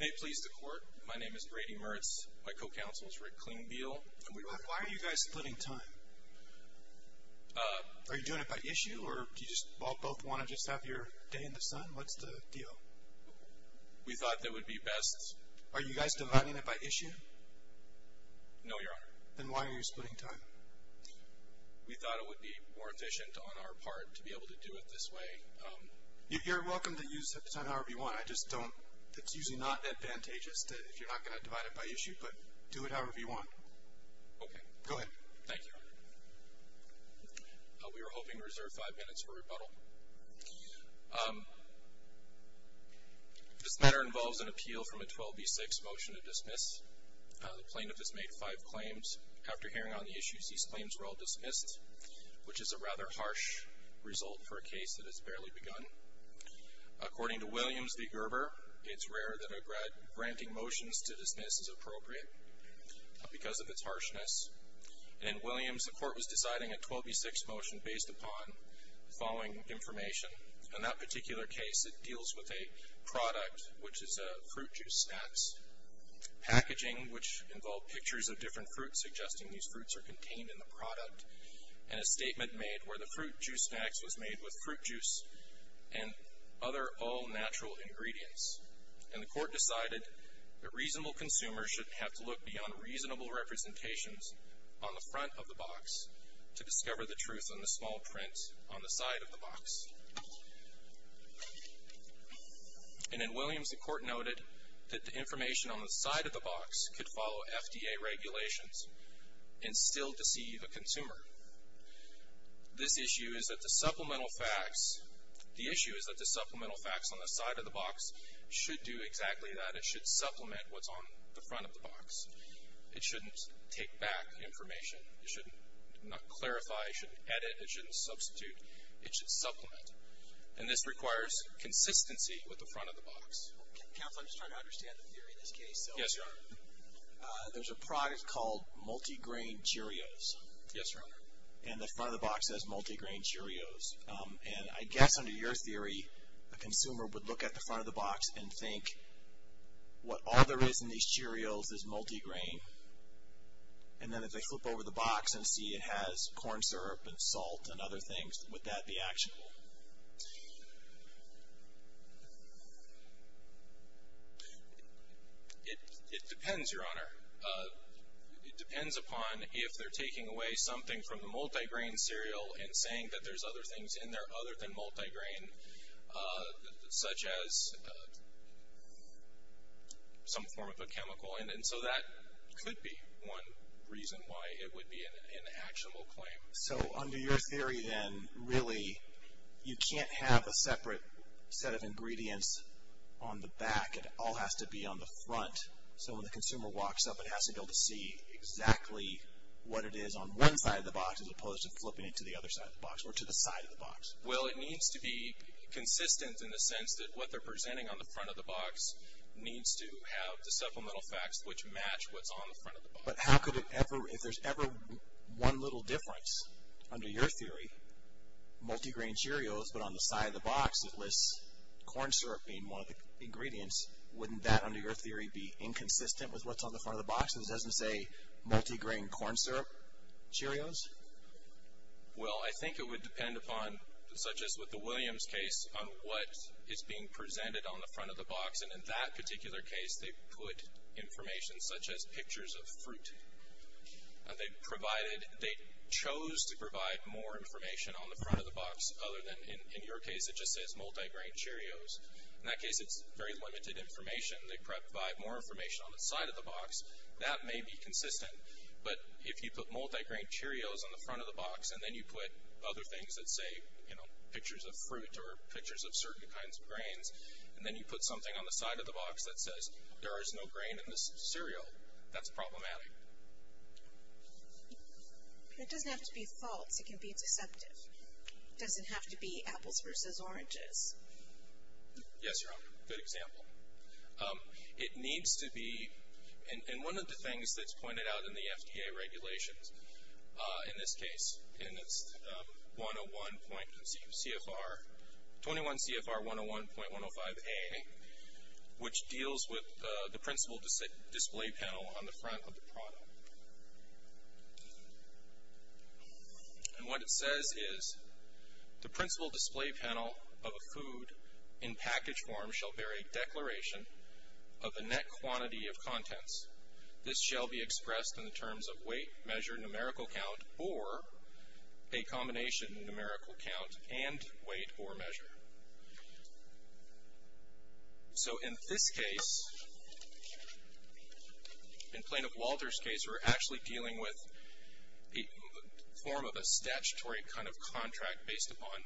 May it please the Court, my name is Brady Mertz, my co-counsel is Rick Klingbeil. Why are you guys splitting time? Are you doing it by issue, or do you both just want to have your day in the sun? What's the deal? We thought it would be best... Are you guys dividing it by issue? No, Your Honor. Then why are you splitting time? We thought it would be more efficient on our part to be able to do it this way. You're welcome to use the time however you want. It's usually not advantageous if you're not going to divide it by issue, but do it however you want. Okay. Go ahead. Thank you, Your Honor. We were hoping to reserve five minutes for rebuttal. This matter involves an appeal from a 12B6 motion to dismiss. The plaintiff has made five claims. After hearing on the issues, these claims were all dismissed, which is a rather harsh result for a case that has barely begun. According to Williams v. Gerber, it's rare that a granting motions to dismiss is appropriate because of its harshness. In Williams, the Court was deciding a 12B6 motion based upon the following information. In that particular case, it deals with a product, which is fruit juice snacks. Packaging, which involved pictures of different fruits suggesting these fruits are contained in the product, and a statement made where the fruit juice snacks was made with fruit juice and other all-natural ingredients. And the Court decided that reasonable consumers should have to look beyond reasonable representations on the front of the box to discover the truth on the small print on the side of the box. And in Williams, the Court noted that the information on the side of the box could follow FDA regulations and still deceive a consumer. This issue is that the supplemental facts on the side of the box should do exactly that. It should supplement what's on the front of the box. It shouldn't take back information. It should not clarify. It shouldn't edit. It shouldn't substitute. It should supplement. And this requires consistency with the front of the box. Counsel, I'm just trying to understand the theory in this case. Yes, Your Honor. There's a product called multigrain Cheerios. Yes, Your Honor. And the front of the box says multigrain Cheerios. And I guess under your theory, a consumer would look at the front of the box and think, what all there is in these Cheerios is multigrain. And then if they flip over the box and see it has corn syrup and salt and other things, would that be actionable? It depends, Your Honor. It depends upon if they're taking away something from the multigrain cereal and saying that there's other things in there other than multigrain, such as some form of a chemical. And so that could be one reason why it would be an actionable claim. So under your theory then, really, you can't have a separate set of ingredients on the back. It all has to be on the front. So when the consumer walks up, it has to be able to see exactly what it is on one side of the box as opposed to flipping it to the other side of the box or to the side of the box. Well, it needs to be consistent in the sense that what they're presenting on the front of the box needs to have the supplemental facts which match what's on the front of the box. But how could it ever, if there's ever one little difference under your theory, multigrain Cheerios, but on the side of the box it lists corn syrup being one of the ingredients, wouldn't that, under your theory, be inconsistent with what's on the front of the box and it doesn't say multigrain corn syrup Cheerios? Well, I think it would depend upon, such as with the Williams case, on what is being presented on the front of the box. And in that particular case, they put information such as pictures of fruit. And they provided, they chose to provide more information on the front of the box other than, in your case, it just says multigrain Cheerios. In that case, it's very limited information. They provide more information on the side of the box. That may be consistent. But if you put multigrain Cheerios on the front of the box and then you put other things that say, you know, pictures of fruit or pictures of certain kinds of grains, and then you put something on the side of the box that says there is no grain in this cereal, that's problematic. It doesn't have to be false. It can be deceptive. It doesn't have to be apples versus oranges. Yes, Your Honor. Good example. It needs to be, and one of the things that's pointed out in the FDA regulations, in this case, in its 101.CFR, 21 CFR 101.105A, which deals with the principal display panel on the front of the product. And what it says is, the principal display panel of a food in package form shall bear a declaration of a net quantity of contents. This shall be expressed in the terms of weight, measure, numerical count, or a combination numerical count and weight or measure. So in this case, in Plaintiff Walter's case, we're actually dealing with a form of a statutory kind of contract based upon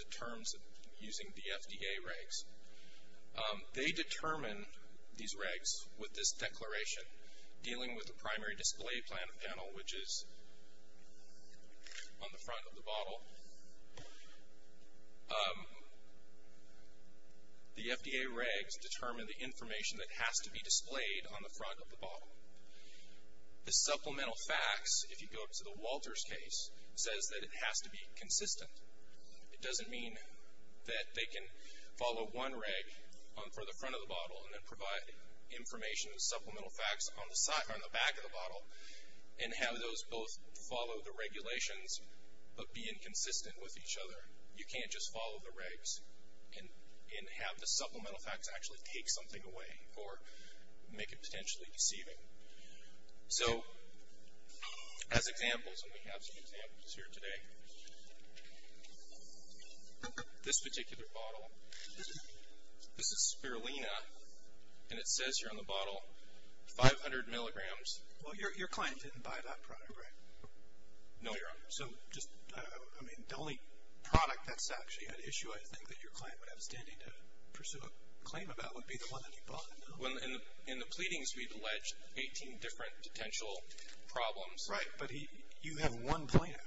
the terms using the FDA regs. They determine these regs with this declaration, dealing with the primary display panel, which is on the front of the bottle. The FDA regs determine the information that has to be displayed on the front of the bottle. The supplemental facts, if you go to the Walter's case, says that it has to be consistent. It doesn't mean that they can follow one reg for the front of the bottle and then provide information, supplemental facts, on the back of the bottle and have those both follow the regulations but be inconsistent with each other. You can't just follow the regs and have the supplemental facts actually take something away or make it potentially deceiving. So as examples, I'm going to have some examples here today. This particular bottle, this is Spirulina, and it says here on the bottle 500 milligrams. Well, your client didn't buy that product, right? No, Your Honor. So just, I mean, the only product that's actually an issue, I think, that your client would have standing to pursue a claim about would be the one that he bought. In the pleadings, we've alleged 18 different potential problems. Right, but you have one plaintiff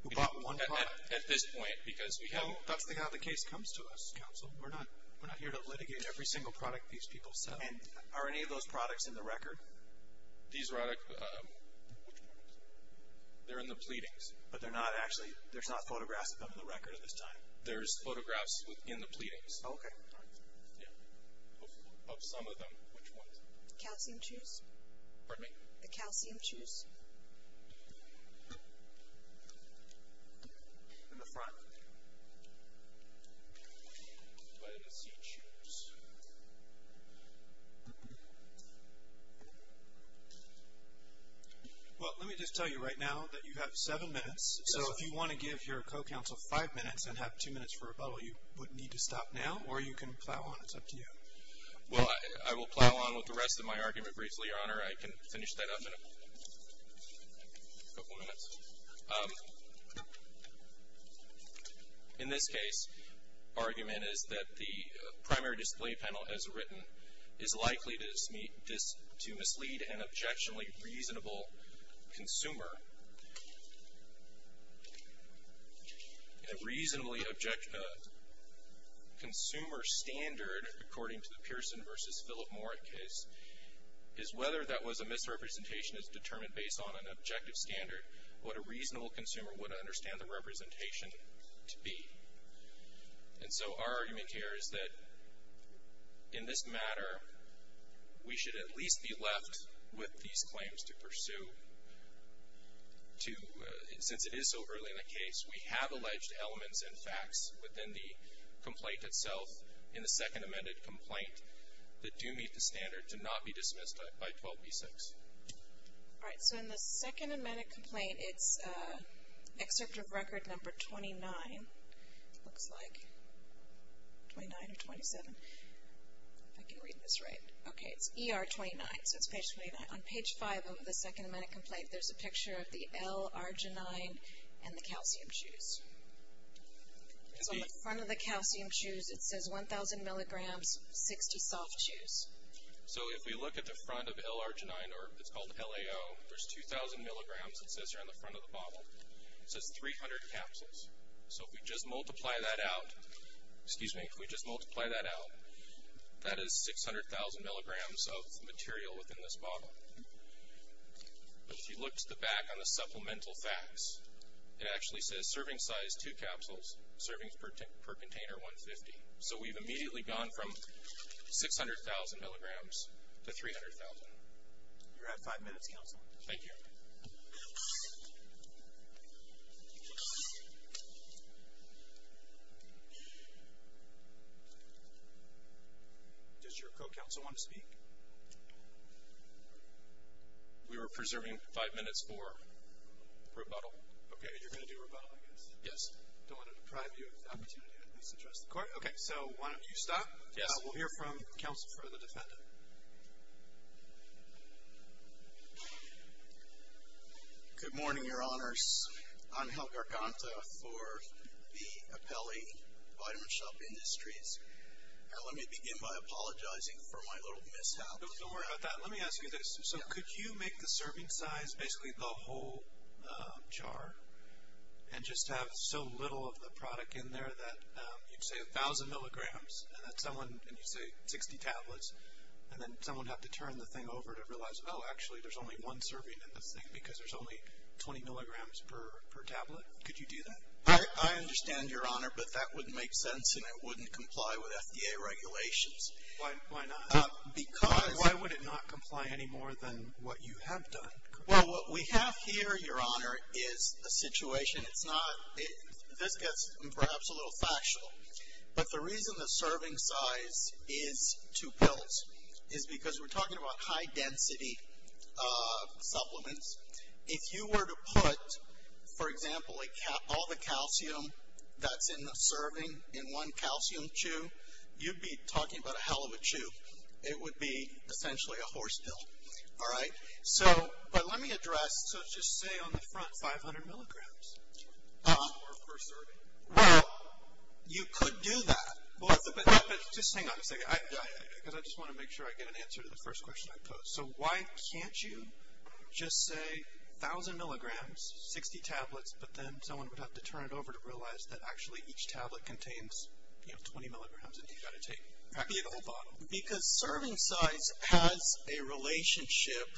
who bought one product? At this point, because we haven't. No, that's how the case comes to us, counsel. We're not here to litigate every single product these people sell. And are any of those products in the record? These products, they're in the pleadings. But they're not actually, there's not photographs of them in the record at this time? There's photographs in the pleadings. Oh, okay. Yeah. Of some of them, which ones? Calcium Chews. Pardon me? The Calcium Chews. In the front. Lettuce Chews. Well, let me just tell you right now that you have seven minutes, so if you want to give your co-counsel five minutes and have two minutes for a bottle, you would need to stop now, or you can plow on, it's up to you. Well, I will plow on with the rest of my argument briefly, Your Honor. I can finish that up in a couple minutes. In this case, argument is that the primary display panel, as written, is likely to mislead an objectionably reasonable consumer. And a reasonably consumer standard, according to the Pearson versus Philip Moore case, is whether that was a misrepresentation is determined based on an objective standard, what a reasonable consumer would understand the representation to be. And so our argument here is that, in this matter, we should at least be left with these claims to pursue to, since it is so early in the case, we have alleged elements and facts within the complaint itself in the second amended complaint that do meet the standard to not be dismissed by 12b-6. All right. So in the second amended complaint, it's excerpt of record number 29, looks like, 29 or 27. If I can read this right. Okay. It's ER 29, so it's page 29. On page 5 of the second amended complaint, there's a picture of the L-Arginine and the calcium chews. So on the front of the calcium chews, it says 1,000 milligrams, 60 soft chews. So if we look at the front of L-Arginine, or it's called LAO, there's 2,000 milligrams that says here on the front of the bottle. It says 300 capsules. So if we just multiply that out, excuse me, if we just multiply that out, that is 600,000 milligrams of material within this bottle. But if you look to the back on the supplemental facts, it actually says serving size two capsules, servings per container 150. So we've immediately gone from 600,000 milligrams to 300,000. You have five minutes, counsel. Thank you. Does your co-counsel want to speak? We were preserving five minutes for rebuttal. Okay. You're going to do rebuttal, I guess. Yes. I don't want to deprive you of the opportunity to at least address the court. Okay. So why don't you stop. Yes. We'll hear from counsel for the defendant. Good morning, Your Honors. Angel Garganta for the Apelli Vitamin Shop Industries. Let me begin by apologizing for my little mishap. Don't worry about that. Let me ask you this. So could you make the serving size basically the whole jar and just have so little of the product in there that you'd say 1,000 milligrams and you'd say 60 tablets and then someone would have to turn the thing over to realize, oh, actually there's only one serving in this thing because there's only 20 milligrams per tablet? Could you do that? I understand, Your Honor, but that wouldn't make sense and it wouldn't comply with FDA regulations. Why not? Because. Why would it not comply any more than what you have done? Well, what we have here, Your Honor, is a situation. This gets perhaps a little factual, but the reason the serving size is two pills is because we're talking about high-density supplements. If you were to put, for example, all the calcium that's in the serving in one calcium chew, you'd be talking about a hell of a chew. It would be essentially a horse pill. All right? But let me address, so just say on the front 500 milligrams. Well, you could do that, but just hang on a second because I just want to make sure I get an answer to the first question I post. So why can't you just say 1,000 milligrams, 60 tablets, but then someone would have to turn it over to realize that actually each tablet contains 20 milligrams and you've got to take practically the whole bottle? Because serving size has a relationship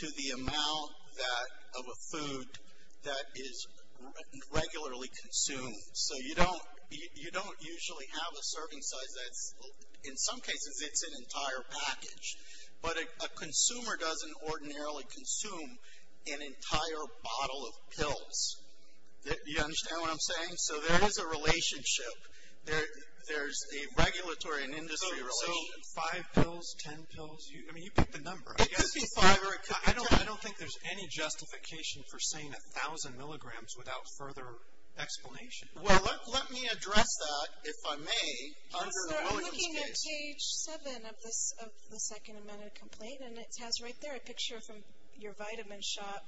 to the amount of a food that is regularly consumed. So you don't usually have a serving size that's, in some cases, it's an entire package. But a consumer doesn't ordinarily consume an entire bottle of pills. Do you understand what I'm saying? So there is a relationship. There's a regulatory and industry relationship. So 5 pills, 10 pills, I mean, you pick the number. It could be 5 or it could be 10. I don't think there's any justification for saying 1,000 milligrams without further explanation. Well, let me address that, if I may, under the Williams case. Yes, sir. I'm looking at page 7 of the second amended complaint, and it has right there a picture from your vitamin shop,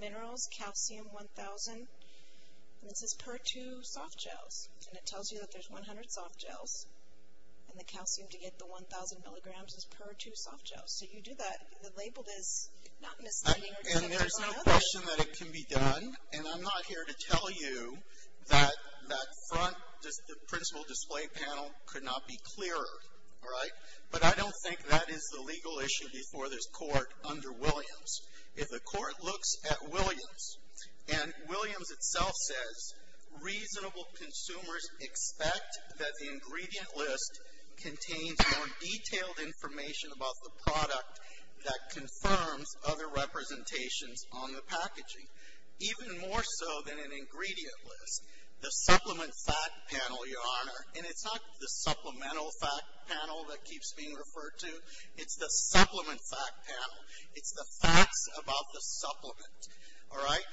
minerals, calcium 1,000. And it says per 2 soft gels. And it tells you that there's 100 soft gels. And the calcium to get the 1,000 milligrams is per 2 soft gels. So you do that. The label is not misleading. And there's no question that it can be done. And I'm not here to tell you that that front, the principal display panel could not be clearer. All right? But I don't think that is the legal issue before this court under Williams. If the court looks at Williams, and Williams itself says reasonable consumers expect that the ingredient list contains more detailed information about the product that confirms other representations on the packaging. Even more so than an ingredient list, the supplement fact panel, Your Honor, and it's not the supplemental fact panel that keeps being referred to. It's the supplement fact panel. It's the facts about the supplement. All right?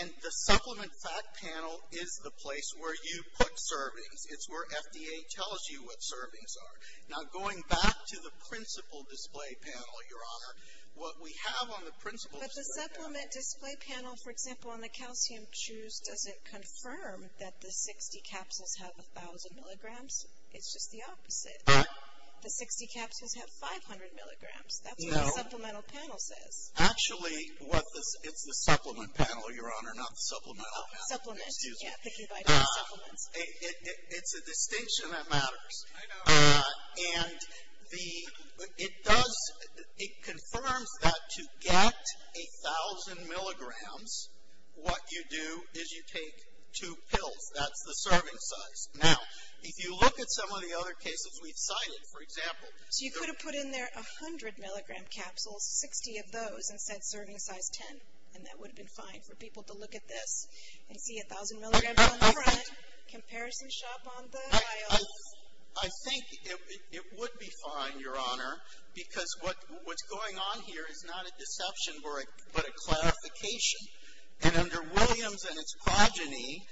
And the supplement fact panel is the place where you put servings. It's where FDA tells you what servings are. Now, going back to the principal display panel, Your Honor, what we have on the principal display panel. But the supplement display panel, for example, on the calcium chews, doesn't confirm that the 60 capsules have 1,000 milligrams. It's just the opposite. The 60 capsules have 500 milligrams. That's what the supplemental panel says. Actually, it's the supplement panel, Your Honor, not the supplemental panel. Supplement. Yeah. It's a distinction that matters. I know. And it does, it confirms that to get 1,000 milligrams, what you do is you take two pills. That's the serving size. Now, if you look at some of the other cases we've cited, for example. So you could have put in there 100 milligram capsules, 60 of those, and said serving size 10. And that would have been fine for people to look at this and see 1,000 milligrams on the front. Comparison shop on the files. I think it would be fine, Your Honor, because what's going on here is not a deception but a clarification. And under Williams and its progeny,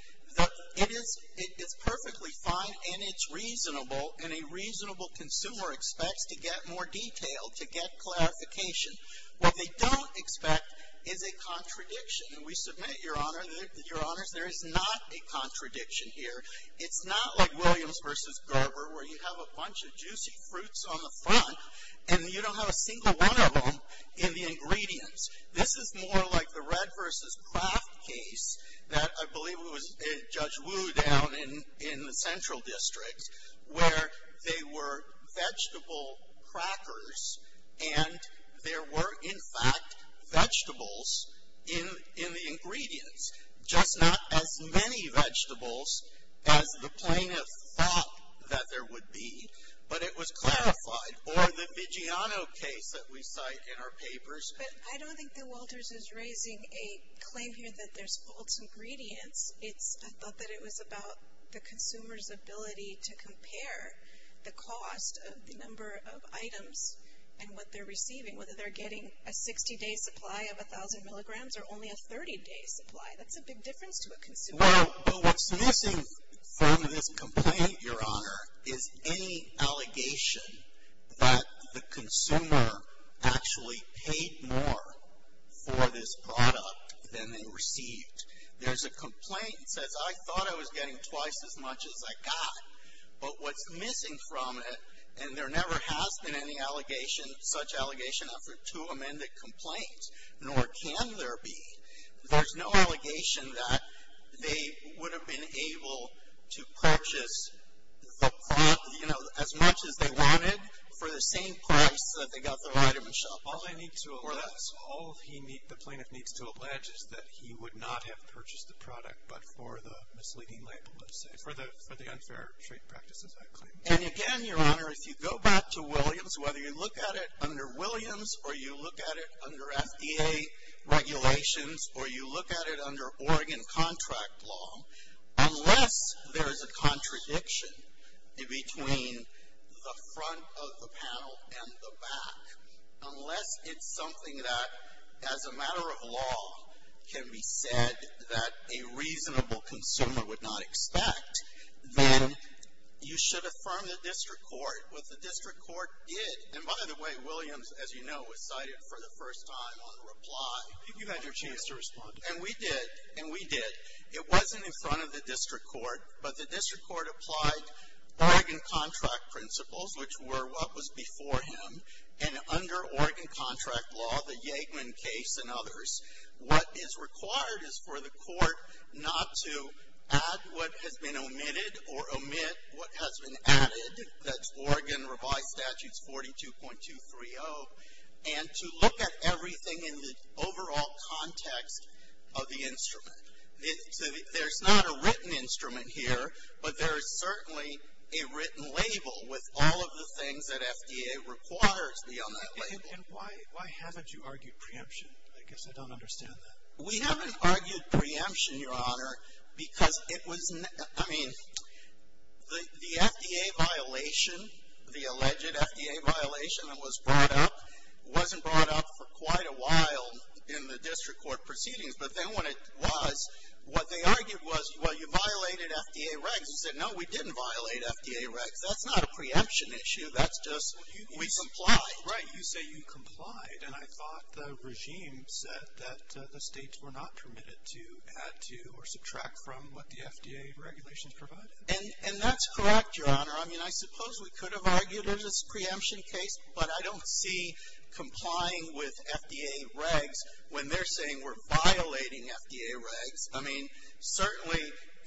it is perfectly fine and it's reasonable and a reasonable consumer expects to get more detail, to get clarification. What they don't expect is a contradiction. And we submit, Your Honor, that there is not a contradiction here. It's not like Williams v. Garber where you have a bunch of juicy fruits on the front and you don't have a single one of them in the ingredients. This is more like the Red v. Craft case that I believe it was Judge Wu down in the Central District where they were vegetable crackers and there were in fact vegetables in the ingredients. Just not as many vegetables as the plaintiff thought that there would be, but it was clarified. Or the Vigiano case that we cite in our papers. But I don't think that Walters is raising a claim here that there's false ingredients. I thought that it was about the consumer's ability to compare the cost of the number of items and what they're receiving, whether they're getting a 60-day supply of 1,000 milligrams or only a 30-day supply. That's a big difference to a consumer. Well, what's missing from this complaint, Your Honor, is any allegation that the consumer actually paid more for this product than they received. There's a complaint that says, I thought I was getting twice as much as I got. But what's missing from it, and there never has been any allegation, such allegation after two amended complaints, nor can there be. There's no allegation that they would have been able to purchase the product, you know, as much as they wanted for the same price that they got the right of a shopper. All the plaintiff needs to allege is that he would not have purchased the product but for the misleading label, let's say, for the unfair trade practices, I claim. And again, Your Honor, if you go back to Williams, whether you look at it under Williams or you look at it under FDA regulations or you look at it under Oregon contract law, unless there's a contradiction between the front of the panel and the back, unless it's something that, as a matter of law, can be said that a reasonable consumer would not expect, then you should affirm the district court. What the district court did, and by the way, Williams, as you know, was cited for the first time on reply. You've had your chance to respond. And we did. And we did. It wasn't in front of the district court, but the district court applied Oregon contract principles, which were what was before him. And under Oregon contract law, the Yegman case and others, what is required is for the court not to add what has been omitted or omit what has been added. That's Oregon revised statutes 42.230. And to look at everything in the overall context of the instrument. There's not a written instrument here, but there is certainly a written label with all of the things that FDA requires be on that label. And why haven't you argued preemption? I guess I don't understand that. We haven't argued preemption, Your Honor, because it was, I mean, the FDA violation, the alleged FDA violation that was brought up, wasn't brought up for quite a while in the district court proceedings. But then when it was, what they argued was, well, you violated FDA regs. We said, no, we didn't violate FDA regs. That's not a preemption issue. That's just we complied. Right. You say you complied. And I thought the regime said that the states were not permitted to add to or subtract from what the FDA regulations provided. And that's correct, Your Honor. I mean, I suppose we could have argued it as a preemption case, but I don't see complying with FDA regs when they're saying we're violating FDA regs. I mean, certainly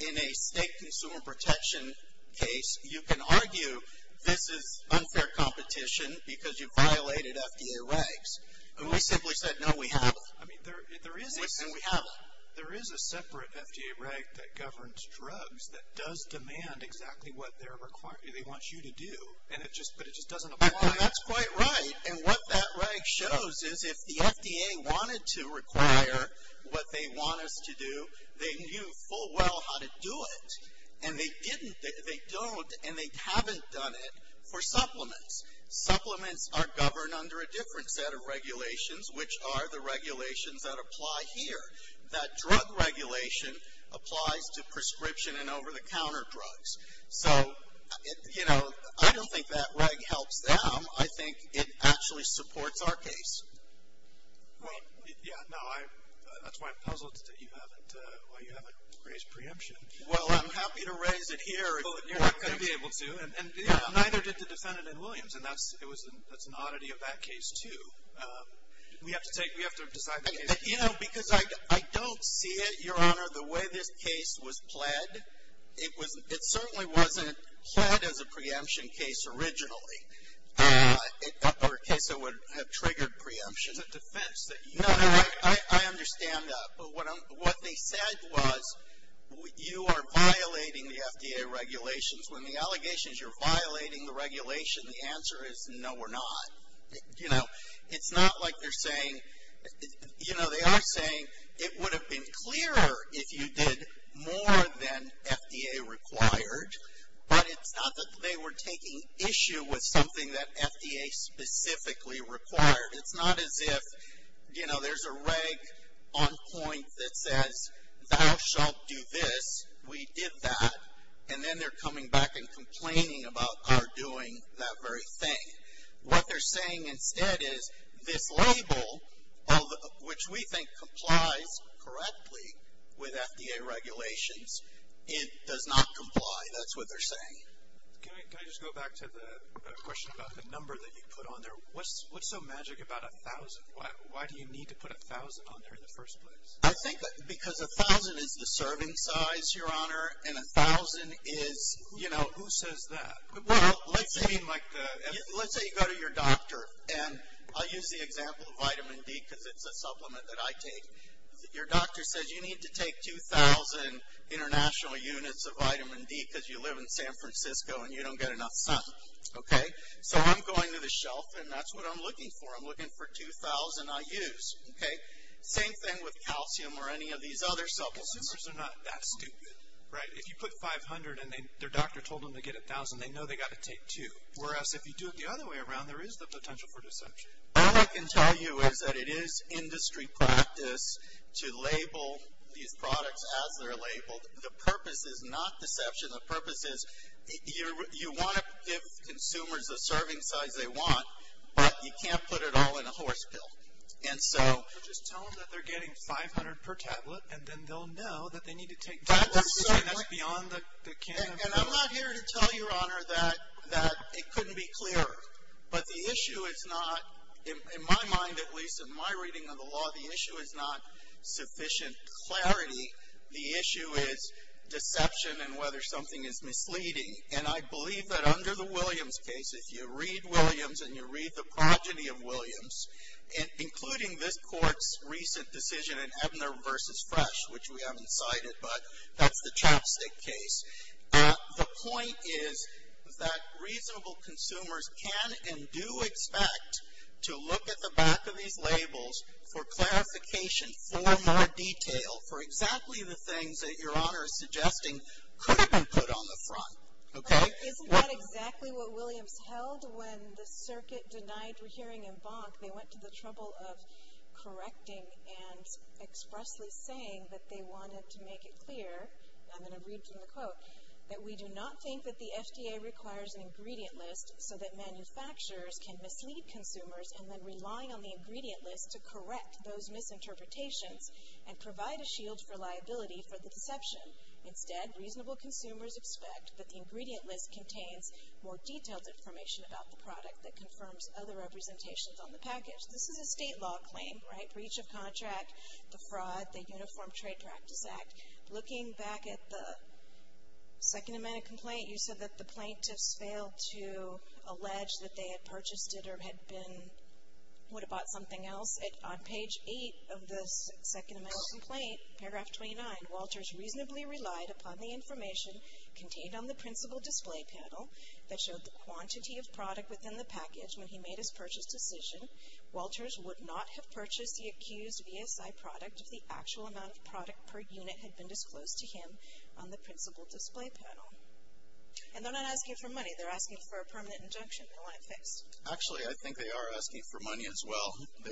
in a state consumer protection case, you can argue this is unfair competition because you violated FDA regs. And we simply said, no, we haven't. I mean, there is a separate FDA reg that governs drugs that does demand exactly what they want you to do, but it just doesn't apply. I mean, that's quite right. And what that reg shows is if the FDA wanted to require what they want us to do, they knew full well how to do it. And they didn't, they don't, and they haven't done it for supplements. Supplements are governed under a different set of regulations, which are the regulations that apply here. That drug regulation applies to prescription and over-the-counter drugs. So, you know, I don't think that reg helps them. I think it actually supports our case. Well, yeah, no, that's why I'm puzzled that you haven't raised preemption. Well, I'm happy to raise it here if you're not going to be able to. And neither did the defendant in Williams, and that's an oddity of that case too. We have to take, we have to decide the case. You know, because I don't see it, Your Honor, the way this case was pled. It certainly wasn't pled as a preemption case originally. Or a case that would have triggered preemption. It's a defense. No, I understand that. But what they said was you are violating the FDA regulations. When the allegation is you're violating the regulation, the answer is no, we're not. You know, it's not like they're saying, you know, they are saying it would have been clearer if you did more than FDA required. But it's not that they were taking issue with something that FDA specifically required. It's not as if, you know, there's a reg on point that says thou shalt do this, we did that. And then they're coming back and complaining about our doing that very thing. What they're saying instead is this label, which we think complies correctly with FDA regulations, it does not comply. That's what they're saying. Can I just go back to the question about the number that you put on there? What's so magic about 1,000? Why do you need to put 1,000 on there in the first place? I think because 1,000 is the serving size, Your Honor, and 1,000 is, you know, who says that? Well, let's say you go to your doctor, and I'll use the example of vitamin D because it's a supplement that I take. Your doctor says you need to take 2,000 international units of vitamin D because you live in San Francisco and you don't get enough sun. Okay? So I'm going to the shelf and that's what I'm looking for. I'm looking for 2,000 I use. Okay? Same thing with calcium or any of these other supplements. Calcium is not that stupid, right? If you put 500 and their doctor told them to get 1,000, they know they've got to take 2, whereas if you do it the other way around, there is the potential for deception. All I can tell you is that it is industry practice to label these products as they're labeled. The purpose is not deception. The purpose is you want to give consumers the serving size they want, but you can't put it all in a horse pill. So just tell them that they're getting 500 per tablet, and then they'll know that they need to take 2,000. That's beyond the can of worms. And I'm not here to tell Your Honor that it couldn't be clearer. But the issue is not, in my mind at least, in my reading of the law, the issue is not sufficient clarity. The issue is deception and whether something is misleading. And I believe that under the Williams case, if you read Williams and you read the progeny of Williams, including this court's recent decision in Ebner v. Fresh, which we haven't cited, but that's the Chapstick case, the point is that reasonable consumers can and do expect to look at the back of these labels for clarification, for more detail, for exactly the things that Your Honor is suggesting could have been put on the front. Okay? Isn't that exactly what Williams held when the circuit denied hearing in Bonk? They went to the trouble of correcting and expressly saying that they wanted to make it clear, and I'm going to read from the quote, that we do not think that the FDA requires an ingredient list so that manufacturers can mislead consumers and then relying on the ingredient list to correct those misinterpretations and provide a shield for liability for the deception. Instead, reasonable consumers expect that the ingredient list contains more detailed information about the product that confirms other representations on the package. This is a state law claim, right? Breach of contract, the fraud, the Uniform Trade Practice Act. Looking back at the second amendment complaint, you said that the plaintiffs failed to allege that they had purchased it or had been, would have bought something else. On page 8 of the second amendment complaint, paragraph 29, Walters reasonably relied upon the information contained on the principal display panel that showed the quantity of product within the package when he made his purchase decision. Walters would not have purchased the accused VSI product if the actual amount of product per unit had been disclosed to him on the principal display panel. And they're not asking for money. They want it fixed. Actually, I think they are asking for money as well. They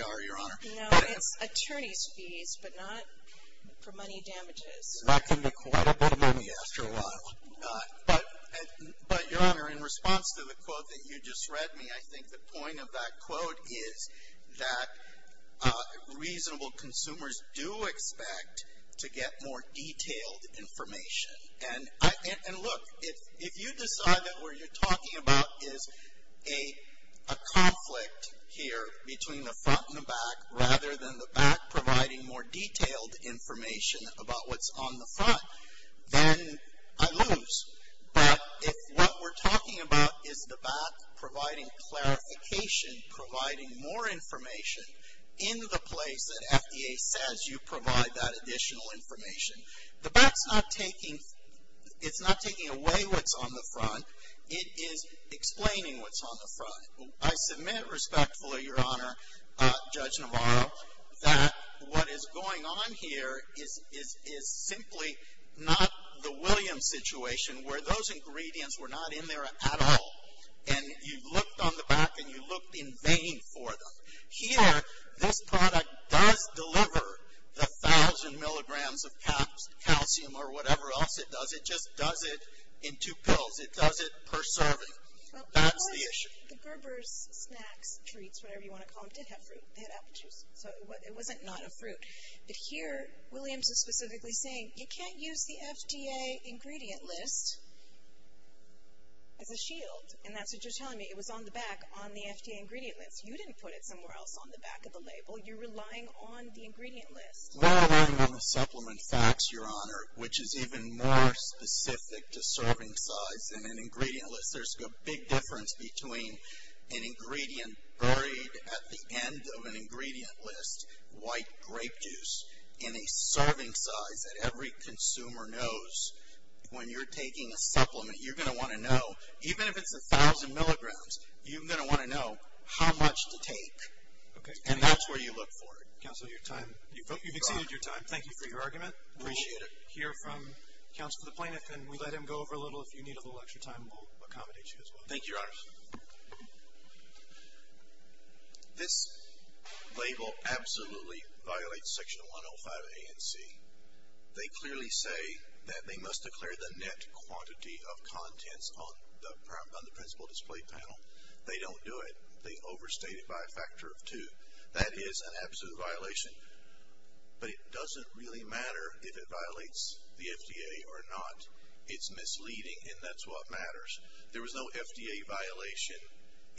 are, Your Honor. No, it's attorney's fees, but not for money damages. That can be quite a bit of money after a while. But, Your Honor, in response to the quote that you just read me, I think the point of that quote is that reasonable consumers do expect to get more detailed information. And look, if you decide that what you're talking about is a conflict here between the front and the back, rather than the back providing more detailed information about what's on the front, then I lose. But if what we're talking about is the back providing clarification, providing more information in the place that FDA says you provide that additional information, the back's not taking away what's on the front. It is explaining what's on the front. I submit respectfully, Your Honor, Judge Navarro, that what is going on here is simply not the Williams situation where those ingredients were not in there at all, and you looked on the back and you looked in vain for them. Here, this product does deliver the thousand milligrams of calcium or whatever else it does. It just does it in two pills. It does it per serving. That's the issue. The Gerber's snacks, treats, whatever you want to call them, did have fruit. They had apple juice. So, it wasn't not a fruit. But here, Williams is specifically saying you can't use the FDA ingredient list as a shield. And that's what you're telling me. It was on the back on the FDA ingredient list. You didn't put it somewhere else on the back of the label. You're relying on the ingredient list. We're relying on the supplement facts, Your Honor, which is even more specific to serving size than an ingredient list. There's a big difference between an ingredient buried at the end of an ingredient list, white grape juice, in a serving size that every consumer knows. When you're taking a supplement, you're going to want to know, even if it's a thousand milligrams, you're going to want to know how much to take. And that's where you look for it. Counsel, you've exceeded your time. Thank you for your argument. We'll hear from Counsel to the Plaintiff, and we'll let him go over a little. If you need a little extra time, we'll accommodate you as well. Thank you, Your Honor. This label absolutely violates Section 105 A and C. They clearly say that they must declare the net quantity of contents on the principal display panel. They don't do it. They overstate it by a factor of two. That is an absolute violation. But it doesn't really matter if it violates the FDA or not. It's misleading, and that's what matters. There was no FDA violation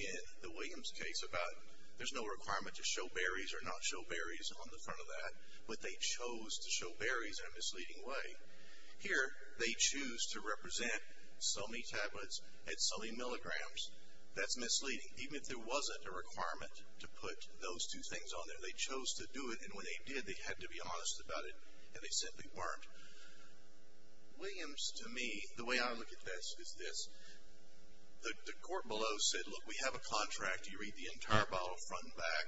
in the Williams case about there's no requirement to show berries or not show berries on the front of that, but they chose to show berries in a misleading way. Here, they choose to represent so many tablets at so many milligrams. That's misleading, even if there wasn't a requirement to put those two things on there. They chose to do it, and when they did, they had to be honest about it, and they simply weren't. Williams, to me, the way I look at this is this. The court below said, look, we have a contract. You read the entire bottle front and back.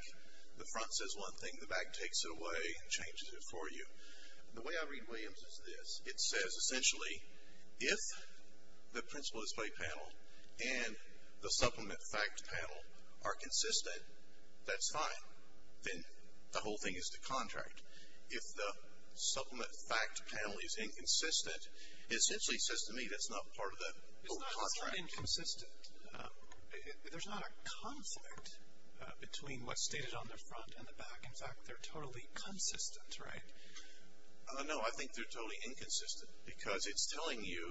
The front says one thing. The back takes it away and changes it for you. The way I read Williams is this. It says, essentially, if the principal display panel and the supplement fact panel are consistent, that's fine. Then the whole thing is to contract. If the supplement fact panel is inconsistent, it essentially says to me that's not part of the whole contract. They're inconsistent. There's not a conflict between what's stated on the front and the back. In fact, they're totally consistent, right? No, I think they're totally inconsistent because it's telling you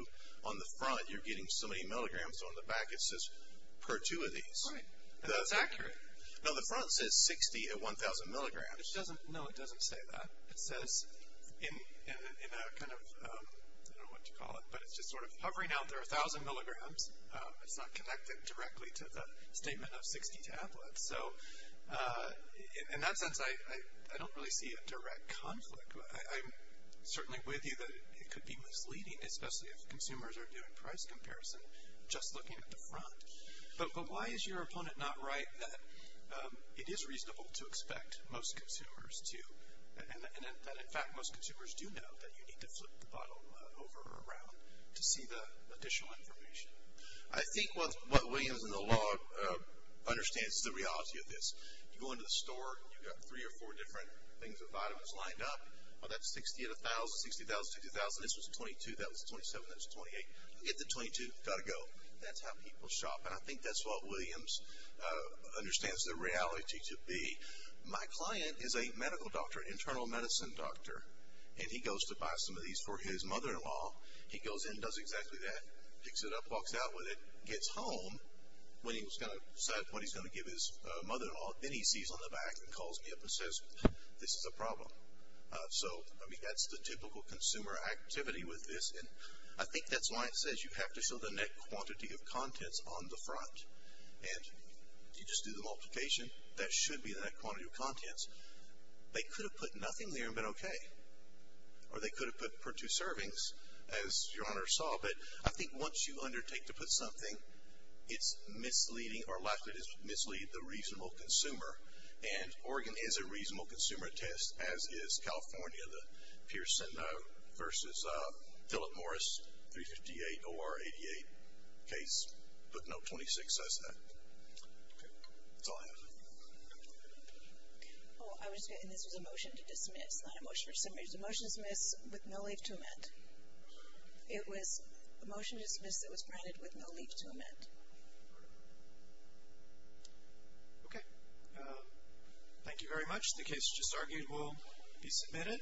on the front you're getting so many milligrams. On the back, it says per two of these. Right, and that's accurate. No, the front says 60 at 1,000 milligrams. No, it doesn't say that. It says in a kind of, I don't know what to call it, but it's just sort of hovering out there, 1,000 milligrams. It's not connected directly to the statement of 60 tablets. So in that sense, I don't really see a direct conflict. I'm certainly with you that it could be misleading, especially if consumers are doing price comparison just looking at the front. But why is your opponent not right that it is reasonable to expect most consumers to, and that in fact most consumers do know that you need to flip the bottle over or around to see the additional information? I think what Williams and the law understands is the reality of this. You go into the store and you've got three or four different things with vitamins lined up. Well, that's 60 at 1,000, 60 at 1,000, 60 at 1,000. This was 22, that was 27, that was 28. You get the 22, got to go. That's how people shop, and I think that's what Williams understands the reality to be. My client is a medical doctor, an internal medicine doctor, and he goes to buy some of these for his mother-in-law. He goes in, does exactly that, picks it up, walks out with it, gets home when he was going to decide what he's going to give his mother-in-law. Then he sees on the back and calls me up and says, this is a problem. So, I mean, that's the typical consumer activity with this. And I think that's why it says you have to show the net quantity of contents on the front. And you just do the multiplication, that should be the net quantity of contents. They could have put nothing there and been okay. Or they could have put for two servings, as your Honor saw. But I think once you undertake to put something, it's misleading or likely to mislead the reasonable consumer. And Oregon is a reasonable consumer test, as is California, the Pearson versus Philip Morris 358 OR 88 case. Book Note 26 says that. Okay. That's all I have. Oh, I was going to say, and this was a motion to dismiss, not a motion to submit. It was a motion to dismiss with no leave to amend. It was a motion to dismiss that was granted with no leave to amend. Okay. Thank you very much. The case just argued will be submitted.